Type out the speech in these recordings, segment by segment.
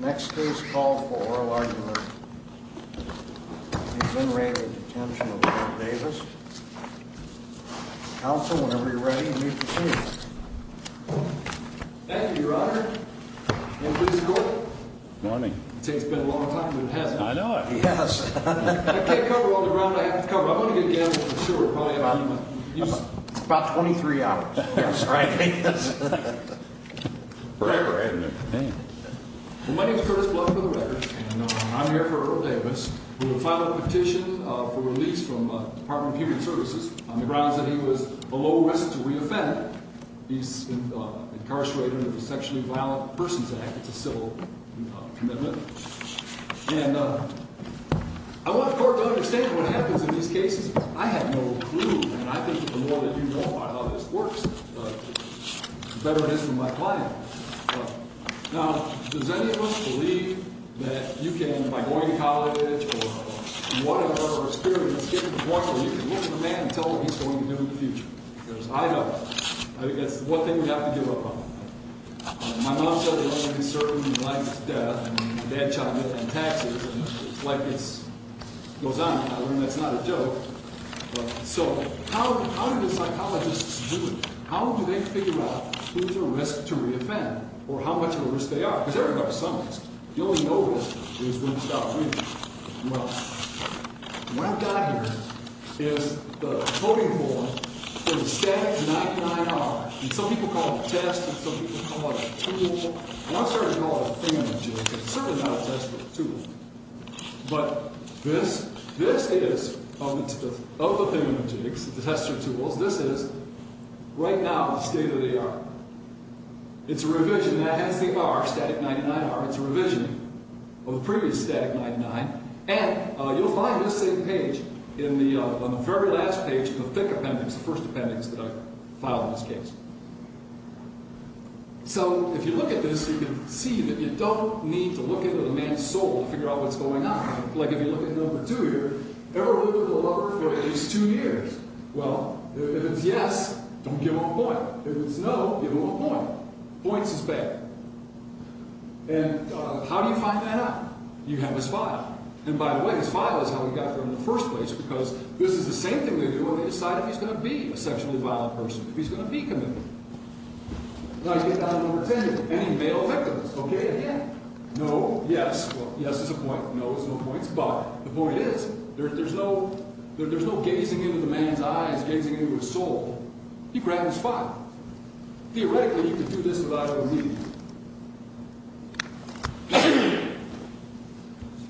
Next, please call for oral argument. He's been arraigned in detention of Davis. Counsel, whenever you're ready, you may proceed. Thank you, Your Honor. Good morning. It takes a long time, but it hasn't. I know it. I can't cover all the ground I have to cover. I'm going to get down to the sewer. It's about 23 hours. I'm sorry. My name is Curtis Bluff for the record, and I'm here for Earl Davis who filed a petition for release from the Department of Human Services on the grounds that he was below risk to reoffend. He's incarcerated under the Sexually Violent Persons Act. It's a civil commitment. And I want the court to understand what happens in these cases. I have no clue, and I think the more that you know about how this works, the better it is for my client. Now, does any of us believe that you can, by going to college or whatever experience, get to the point where you can look at a man and tell him what he's going to do in the future? Because I don't. I think that's the one thing we have to give up on. My mom said that I'm going to be serving my life to death, and my dad's trying to get me on taxes, and it's like it goes on. I mean, that's not a joke. So, how do the psychologists do it? How do they figure out who's at risk to reoffend, or how much of a risk they are? Because there are some risks. The only no risk is when you stop breathing. Well, what I've got here is the coding form for the static 99R. And some people call it a test, and some people call it a tool. And I'm sorry to call it a thing on a jig, because it's certainly not a test, but a tool. But this is, of the thing on the jigs, the tester tools, this is, right now, the state of the art. It's a revision that has the R, static 99R. It's a revision of the previous static 99, and you'll find this same page on the very last page of the thick appendix, the first appendix that I filed in this case. So, if you look at this, you can see that you don't need to look into the man's soul to figure out what's going on. Like, if you look at number two here, ever lived with a lover for at least two years? Well, if it's yes, don't give him a point. If it's no, give him a point. Points is bad. And how do you find that out? You have his file. And, by the way, his file is how we got there in the first place, because this is the same thing they do when they decide if he's going to be a sexually violent person, if he's going to be committed. Now, you get down to number 10, any male victims, okay? No. Yes. Well, yes is a point. No is no points. But the point is, there's no gazing into the man's eyes, gazing into his soul. He grabbed his file. Theoretically, you could do this without even needing it.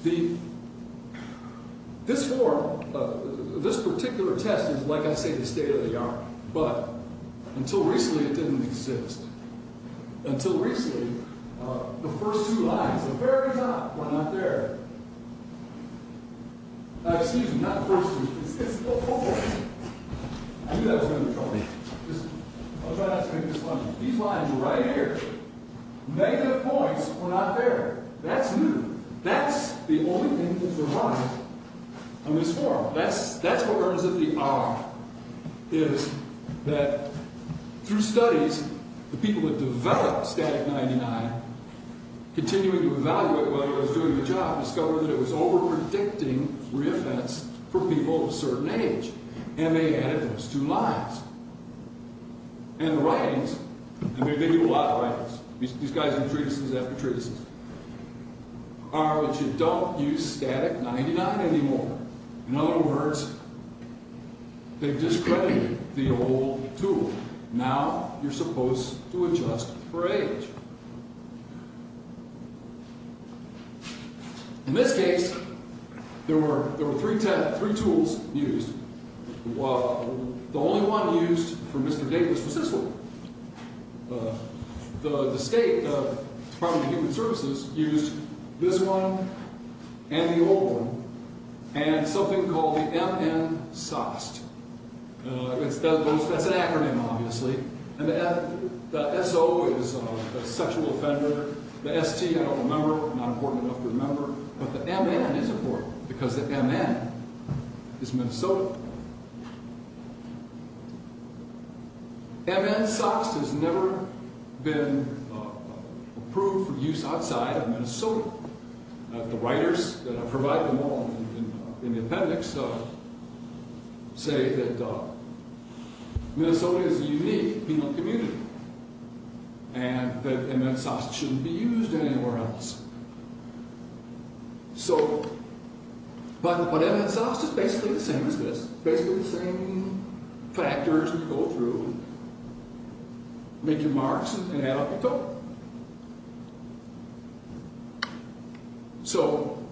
The...this form, this particular test is, like I say, the state of the art. But, until recently, it didn't exist. Until recently, the first two lines, the very top, were not there. Excuse me, not the first two. I knew that was going to be a problem. I'll try not to make this fun. These lines right here, negative points were not there. That's new. That's the only thing that's arrived on this form. That's what earns it the R, is that through studies, the people that developed Static 99, continuing to evaluate while he was doing the job, discovered that it was over-predicting re-events for people of certain age. And they added those two lines. And the writings, and they do a lot of writings, these guys do treatises after treatises, are that you don't use Static 99 anymore. In other words, they've discredited the old tool. Now, you're supposed to adjust for age. In this case, there were three tools used. The only one used for Mr. Davis was this one. The State Department of Human Services used this one, and the old one, and something called the MN-SOST. That's an acronym, obviously. The S-O is a sexual offender. The S-T, I don't remember. Not important enough to remember. But the M-N is important, because the M-N is Minnesota. MN-SOST has never been approved for use outside of Minnesota. The writers that have provided them all in the appendix say that Minnesota is a unique penal community, and that MN-SOST shouldn't be used anywhere else. But what MN-SOST is basically the same as this. Basically the same factors you go through, make your marks, and add up the total. So,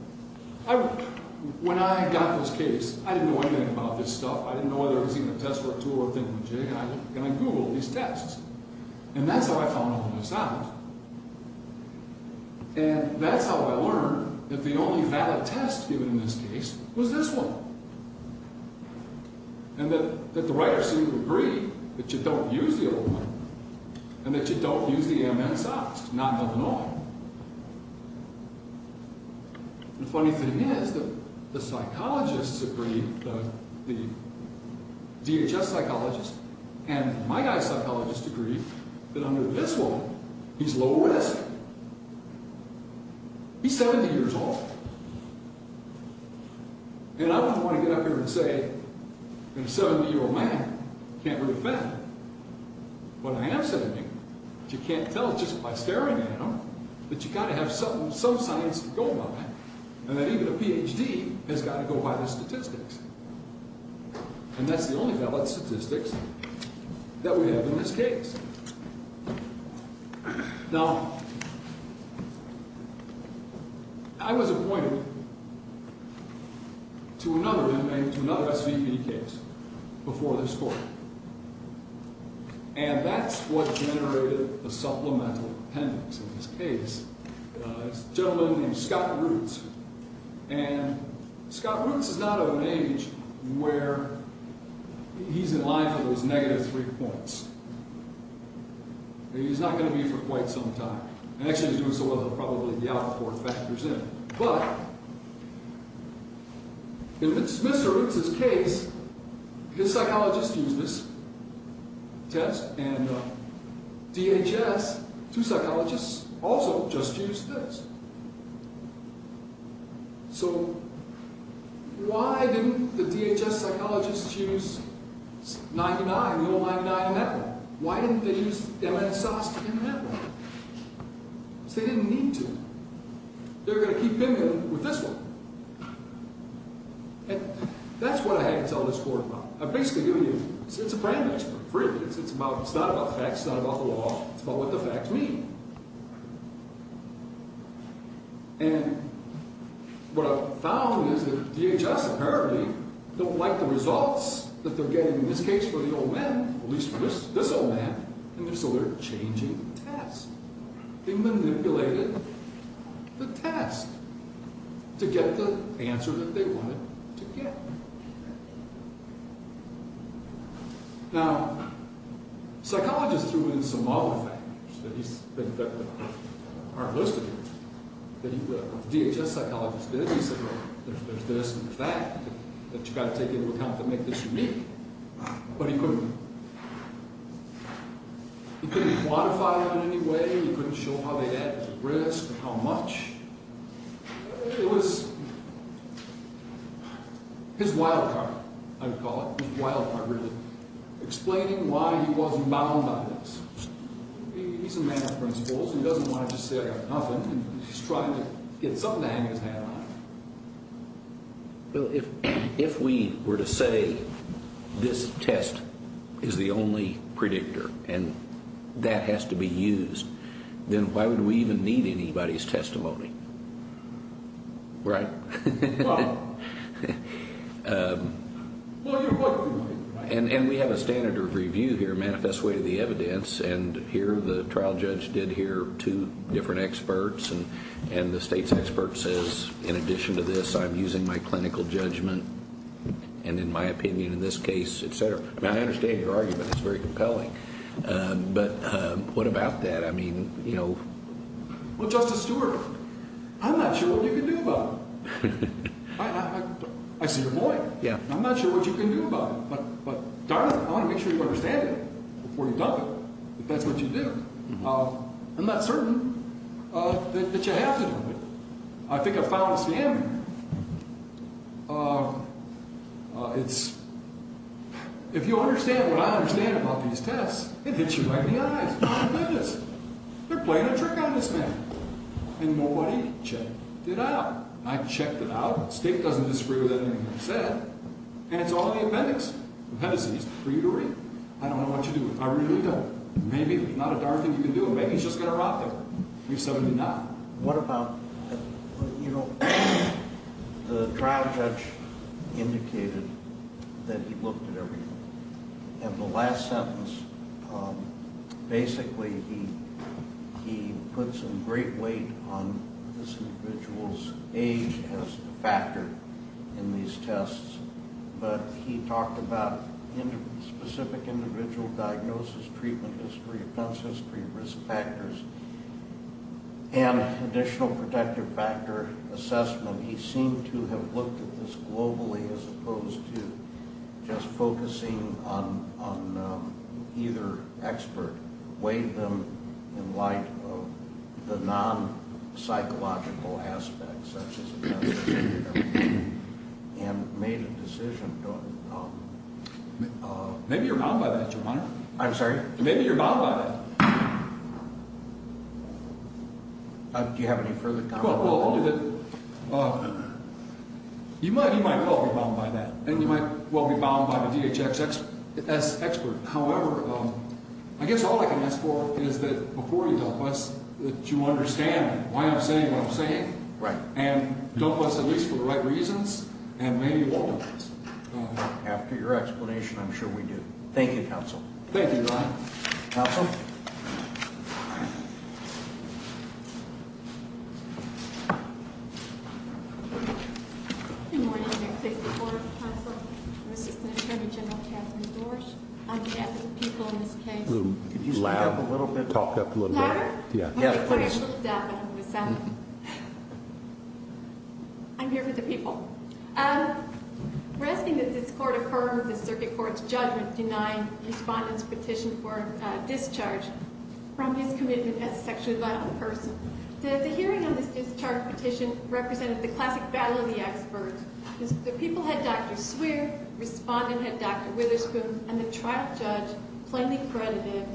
when I got this case, I didn't know anything about this stuff. I didn't know whether it was even a test or a tool or a thing. And I Googled these tests. And that's how I found all of this out. And that's how I learned that the only valid test given in this case was this one. And that the writers seemed to agree that you don't use the old one, and that you don't use the MN-SOST, not one at all. The funny thing is that the psychologists agree, the DHS psychologists and my guy's psychologists agree that under this one, he's low risk. He's 70 years old. And I don't want to get up here and say, a 70-year-old man can't prove a fact, but I am 70. But you can't tell just by staring at him that you've got to have some science to go by and that even a PhD has got to go by the statistics. And that's the only valid statistics that we have in this case. Now, I was appointed to another SVP case before this court. And that's what generated the supplemental appendix in this case. A gentleman named Scott Roots. And Scott Roots is not of an age where he's in line for those negative three points. He's not going to be for quite some time. And actually he's doing so well that probably the outpour factors in. But, in Mr. Roots' case, his psychologist used this test and DHS, two psychologists, also just used this. So, why didn't the DHS psychologists use 99, no 99 in that one? Why didn't they use MSSAS in that one? Because they didn't need to. They're going to keep binging with this one. And that's what I had to tell this court about. It's a brand match for free. It's not about facts. It's not about the law. It's about what the facts mean. And what I found is that DHS apparently don't like the results that they're getting in this case for the old man, at least for this old man. And so they're changing tests. They manipulated the test to get the answer that they wanted to get. Now, psychologists threw in some other factors that aren't listed here. The DHS psychologist did. He said, well, there's this and there's that. That you've got to take into account to make this unique. But he couldn't. He couldn't quantify it in any way. He couldn't show how they add to the risk, how much. It was his wild card, I would call it, his wild card really, explaining why he wasn't bound by this. He's a man of principles. He doesn't want to just say I got nothing. He's trying to get something to hang his hand on. Well, if we were to say that this test is the only predictor and that has to be used, then why would we even need anybody's testimony? Right? And we have a standard of review here, manifest way of the evidence, and here the trial judge did hear two different experts and the state's expert says, in addition to this, I'm using my clinical judgment. And in my opinion, in this case, et cetera. I understand your argument. It's very compelling. But what about that? Well, Justice Stewart, I'm not sure what you can do about it. I see your point. I'm not sure what you can do about it. Darling, I want to make sure you understand it before you dump it, if that's what you do. I'm not certain that you have to do it. I think I found a scam here. It's if you understand what I understand about these tests, it hits you right in the eyes. You shouldn't do this. They're playing a trick on this man. And nobody checked it out. I checked it out. The state doesn't disagree with anything I said. And it's all in the appendix of Hennessey's for you to read. I don't know what you're doing. I really don't. Maybe if it's not a darn thing you can do, maybe he's just going to rob them. You're 79. What about the trial judge indicated that he looked at everything. And the last sentence, basically he puts a great weight on this individual's age as a factor in these tests. But he talked about specific individual diagnosis, treatment history, offense history, risk factors. And additional protective factor assessment, he seemed to have looked at this globally as opposed to just focusing on either expert, weighed them in light of the non-psychological aspects such as and made a decision. Maybe you're bound by that, Your Honor. I'm sorry? Maybe you're bound by that. Do you have any further comments? Well, only that you might well be bound by that. And you might well be bound by the DHS expert. However, I guess all I can ask for is that before you dump us, that you understand why I'm saying what I'm saying. And dump us at least for the right reasons. And maybe you won't dump us. Thank you, Your Honor. Counsel? Good morning. I'm here to take the Court of Counsel. I'm Assistant Attorney General Catherine Dorge. I'm here with the people in this case. Could you speak up a little bit louder? I'm here with the people. We're asking that this Court affirm the Respondent's petition for discharge from his commitment as a sexually violent person. The hearing on this discharge petition represented the classic battle of the experts. The people had Dr. Swear, Respondent had Dr. Witherspoon, and the trial judge plainly credited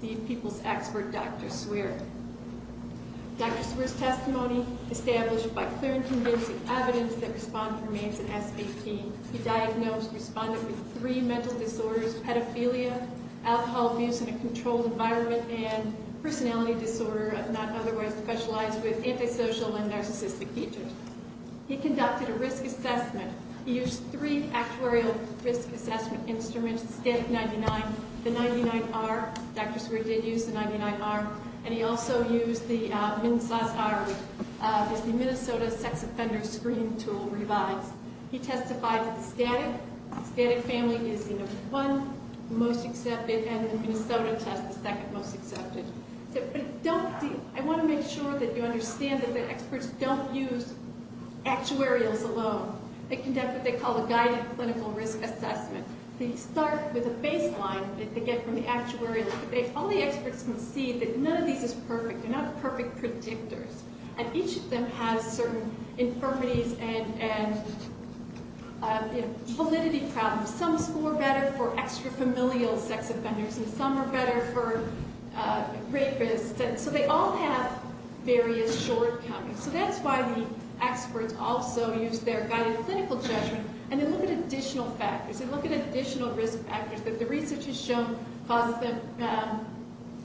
the people's expert, Dr. Swear. Dr. Swear's testimony, established by clear and convincing evidence that Respondent remains an SVP, he diagnosed Respondent with three developmental disorders, pedophilia, alcohol abuse in a controlled environment, and personality disorder, not otherwise specialized with antisocial and narcissistic features. He conducted a risk assessment. He used three actuarial risk assessment instruments, the static 99, the 99R, Dr. Swear did use the 99R, and he also used the MNSASR, the Minnesota Sex Offender Screening Tool, revised. He testified that the static family is the number one most accepted and the Minnesota test the second most accepted. I want to make sure that you understand that the experts don't use actuarials alone. They conduct what they call a guided clinical risk assessment. They start with a baseline that they get from the actuarial. All the experts can see that none of these is perfect. They're not perfect predictors. And each of them has certain infirmities and validity problems. Some score better for extra-familial sex offenders, and some are better for rapists. So they all have various shortcomings. So that's why the experts also use their guided clinical judgment, and they look at additional factors. They look at additional risk factors that the research has shown causes the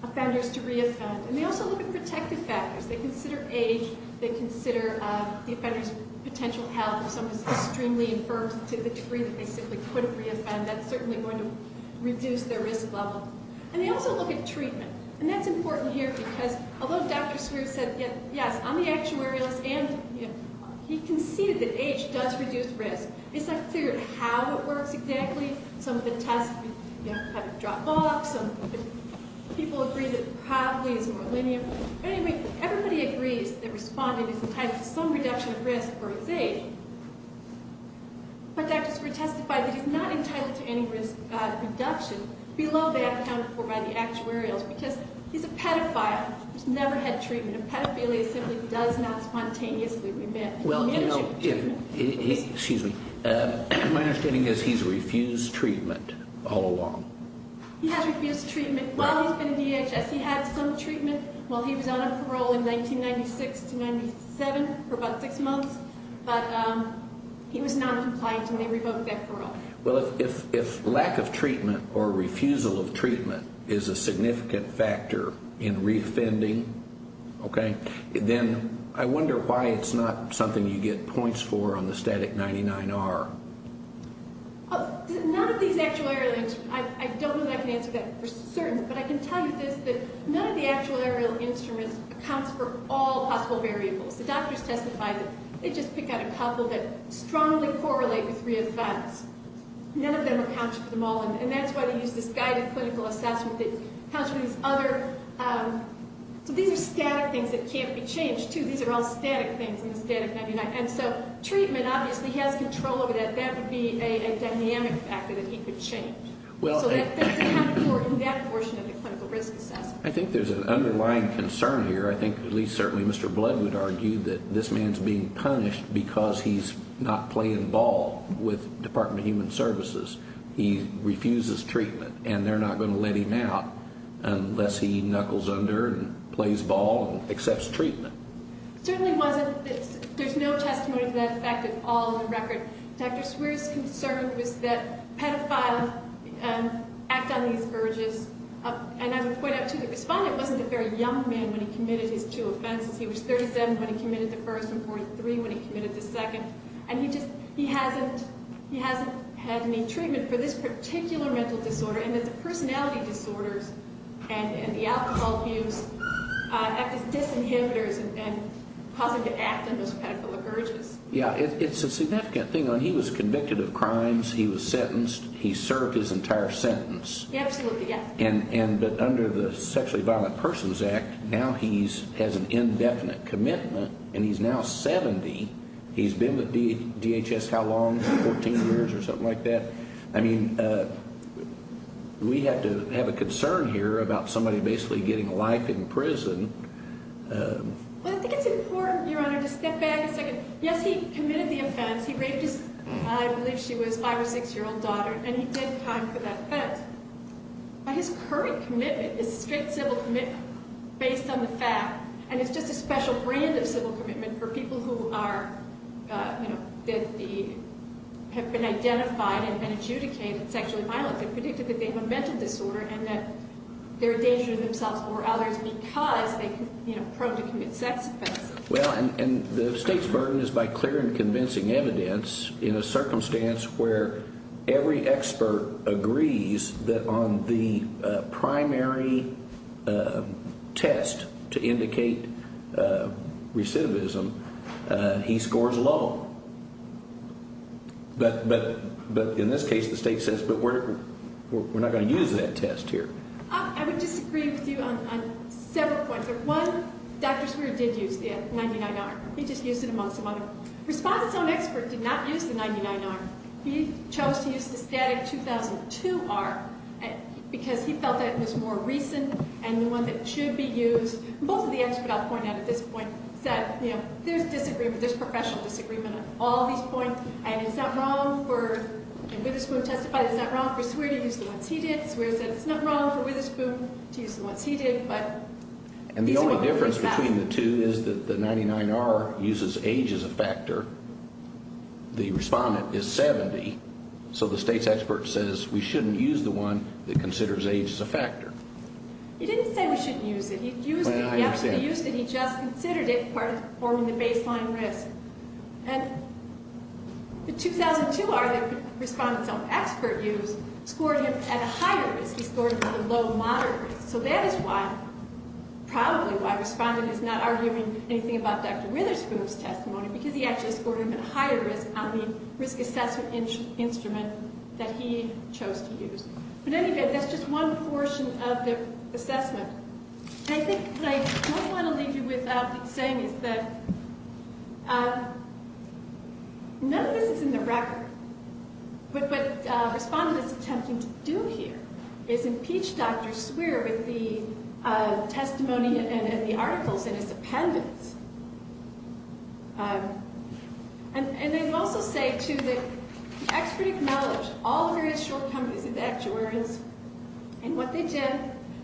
offenders to re-offend. And they also look at protective factors. They consider age, they consider the offender's potential health. If someone is extremely infirm to the degree that they simply couldn't re-offend, that's certainly going to reduce their risk level. And they also look at treatment. And that's important here, because although Dr. Scrooge said, yes, on the actuarial list, and he conceded that age does reduce risk, they still have to figure out how it works exactly. Some of the tests, you know, have it drop off. Some people agree that it probably is more linear. But anyway, everybody agrees that responding is entitled to some reduction of risk for his age. But Dr. Scrooge testified that he's not entitled to any risk reduction below that accounted for by the actuarials, because he's a pedophile who's never had treatment. A pedophilia simply does not spontaneously prevent. Excuse me. My understanding is he's refused treatment all along. He has refused treatment while he's been in DHS. He had some treatment while he was on a parole in 1996 to 1997 for about six months. But he was noncompliant, and they revoked that parole. Well, if lack of treatment or refusal of treatment is a significant factor in re-offending, okay, then I wonder why it's not something you get points for on the static 99R. None of these actuarial links, I don't know that I can answer that for certain, but I can tell you this, that none of the actuarial instruments accounts for all possible variables. The doctors testified that they just pick out a couple that strongly correlate with re-offends. None of them accounts for them all, and that's why they use this guided clinical assessment that counts for these other... So these are static things that can't be changed, too. These are all static things in the static 99. And so treatment obviously has control over that. That would be a dynamic factor that he could change. So that's accounted for in that portion of the clinical risk assessment. I think there's an underlying concern here. I think at least certainly Mr. Blood would argue that this man's being punished because he's not playing ball with Department of Human Services. He refuses treatment, and they're not going to let him out unless he knuckles under and plays ball and accepts treatment. It certainly wasn't... There's no testimony to that effect at all in the record. Dr. Swear's concern was that pedophiles act on these urges. And I would point out, too, the respondent wasn't a very young man when he committed his two offenses. He was 37 when he committed the first and 43 when he committed the second. And he hasn't had any treatment for this particular mental disorder, and that the personality disorders and the alcohol abuse act as disinhibitors and cause him to act on those pedophilic urges. Yeah, it's a significant thing. He was convicted of crimes. He was sentenced. He served his entire sentence. Absolutely, yes. But under the Sexually Violent Persons Act, now he has an indefinite commitment, and he's now 70. He's been with DHS how long? 14 years or something like that? We have to have a concern here about somebody basically getting life in prison. Well, I think it's important, Your Honor, to step back a second. Yes, he committed the offense. He raped his I believe she was 5 or 6-year-old daughter, and he did time for that offense. But his current commitment is a straight civil commitment based on the fact. And it's just a special brand of civil commitment for people who are, you know, have been identified and adjudicated sexually violent and predicted that they have a mental disorder and that they're a danger to themselves or others because they are, you know, prone to commit sex offenses. Well, and the State's burden is by clear and convincing evidence in a circumstance where every expert agrees that on the primary test to indicate recidivism, he scores low. But in this case, the State says, but we're not going to use that test here. I would disagree with you on several points. One, Dr. Swearer did use the 99R. He just used it amongst some others. Respondent's own expert did not use the 99R. He chose to use the static 2002R because he felt that it was more recent and the one that should be used. Both of the experts I'll point out at this point said, you know, there's disagreement, there's professional disagreement on all these points, and it's not wrong for, and Witherspoon testified, it's not wrong for Swearer to use the ones he did. Swearer said it's not wrong for Witherspoon to use the ones he did, but And the only difference between the two is that the 99R uses age as a factor. The respondent is 70, so the State's expert says we shouldn't use the one that considers age as a factor. He didn't say we shouldn't use it. He used it, he actually used it, he just considered it part of performing the baseline risk. And the 2002R that respondent's own expert used scored him at a higher risk. He scored him at a low, moderate risk. So that is why, probably why respondent is not arguing anything about Dr. Witherspoon's testimony, because he actually scored him at a higher risk on the risk assessment instrument that he chose to use. But anyway, that's just one portion of the assessment. And I think what I want to leave you with saying is that none of this is in the record, but what respondent is attempting to do here is impeach Dr. Swearer with the testimony and the articles in his appendix. And I'd also say, too, that the expert acknowledged all the various shortcomings of the actuaries, and what they did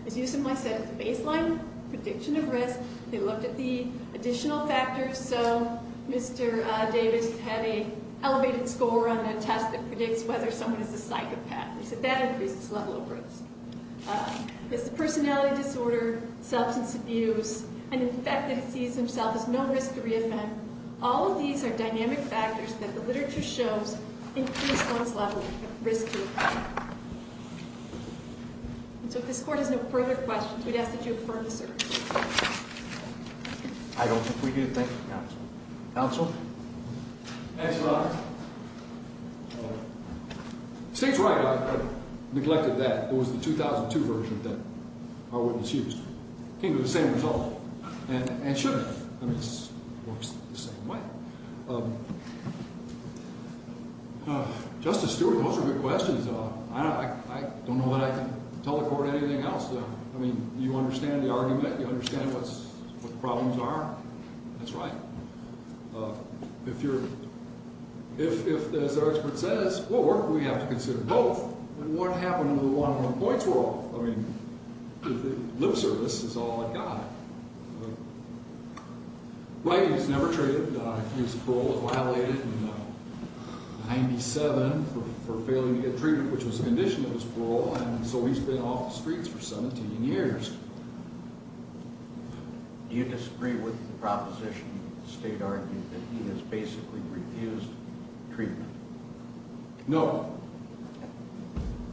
is use them as a baseline prediction of risk. They looked at the additional factors, so Mr. Davis had an elevated score on a test that predicts whether someone is a psychopath. They said that increased his level of risk. Personality disorder, substance abuse, and the fact that he sees himself as no risk to re-offend, all of these are dynamic factors that the literature shows increase one's level of risk to re-offend. And so if this Court has no further questions, we'd ask that you affirm the search. I don't think we need to thank the counsel. Counsel? State's right. I neglected that. It was the 2002 version that our witness used. It came to the same result. And it should have. I mean, it works the same way. Justice Stewart, those are good questions. I don't know that I can tell the Court anything else. I mean, you understand the argument. You understand what the problems are. That's right. If, as our expert says, or we have to consider both, what happened to the one-on-one points rule? I mean, lip service is all it got. Right, he was never treated. He was paroled and violated in 1997 for failing to get treated, which was a condition of his parole. And so he's been off the streets for 17 years. Do you disagree with the proposition that the State argued that he has basically refused treatment? No.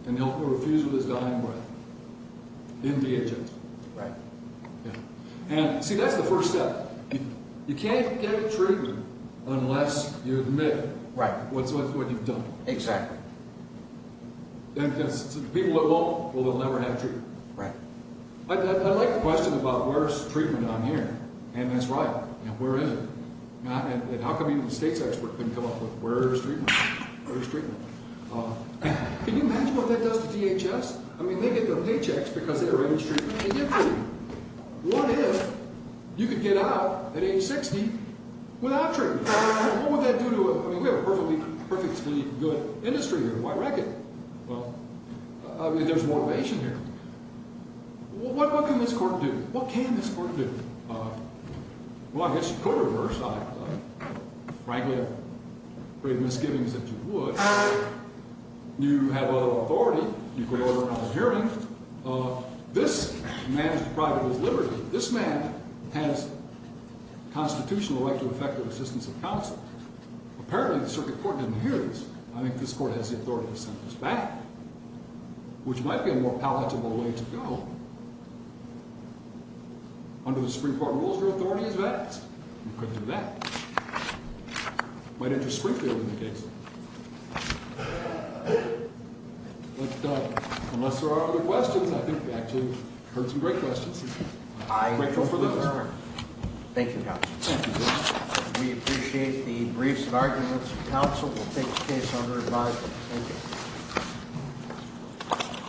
And he'll be refused his dying breath in the agency. See, that's the first step. You can't get treatment unless you admit what you've done. Exactly. People that won't will never have treatment. I like the question about where's treatment on here. And that's right. Where is it? And how come even the State's expert couldn't come up with where's treatment? Can you imagine what that does to DHS? I mean, they get their paychecks because they arrange treatment and get treatment. What if you could get out at age 60 without treatment? What would that do to us? I mean, we have a perfectly, perfectly good industry here in the White Record. Well, I mean, there's motivation here. What can this Court do? Well, I guess you could reverse. I frankly have great misgivings that you would. You have authority. You could order a hearing. This man is deprived of his liberty. This man has constitutional right to effective assistance of counsel. Apparently, the Circuit Court didn't hear this. I think this Court has the authority to send this back, which might be a more palatable way to go. Under the Supreme Court rules, your authority is vast. You could do that. It might interest Springfield in the case. But unless there are other questions, I think we actually heard some great questions. Thank you, Counsel. We appreciate the briefs and arguments. Counsel will take the case under advisement. Thank you.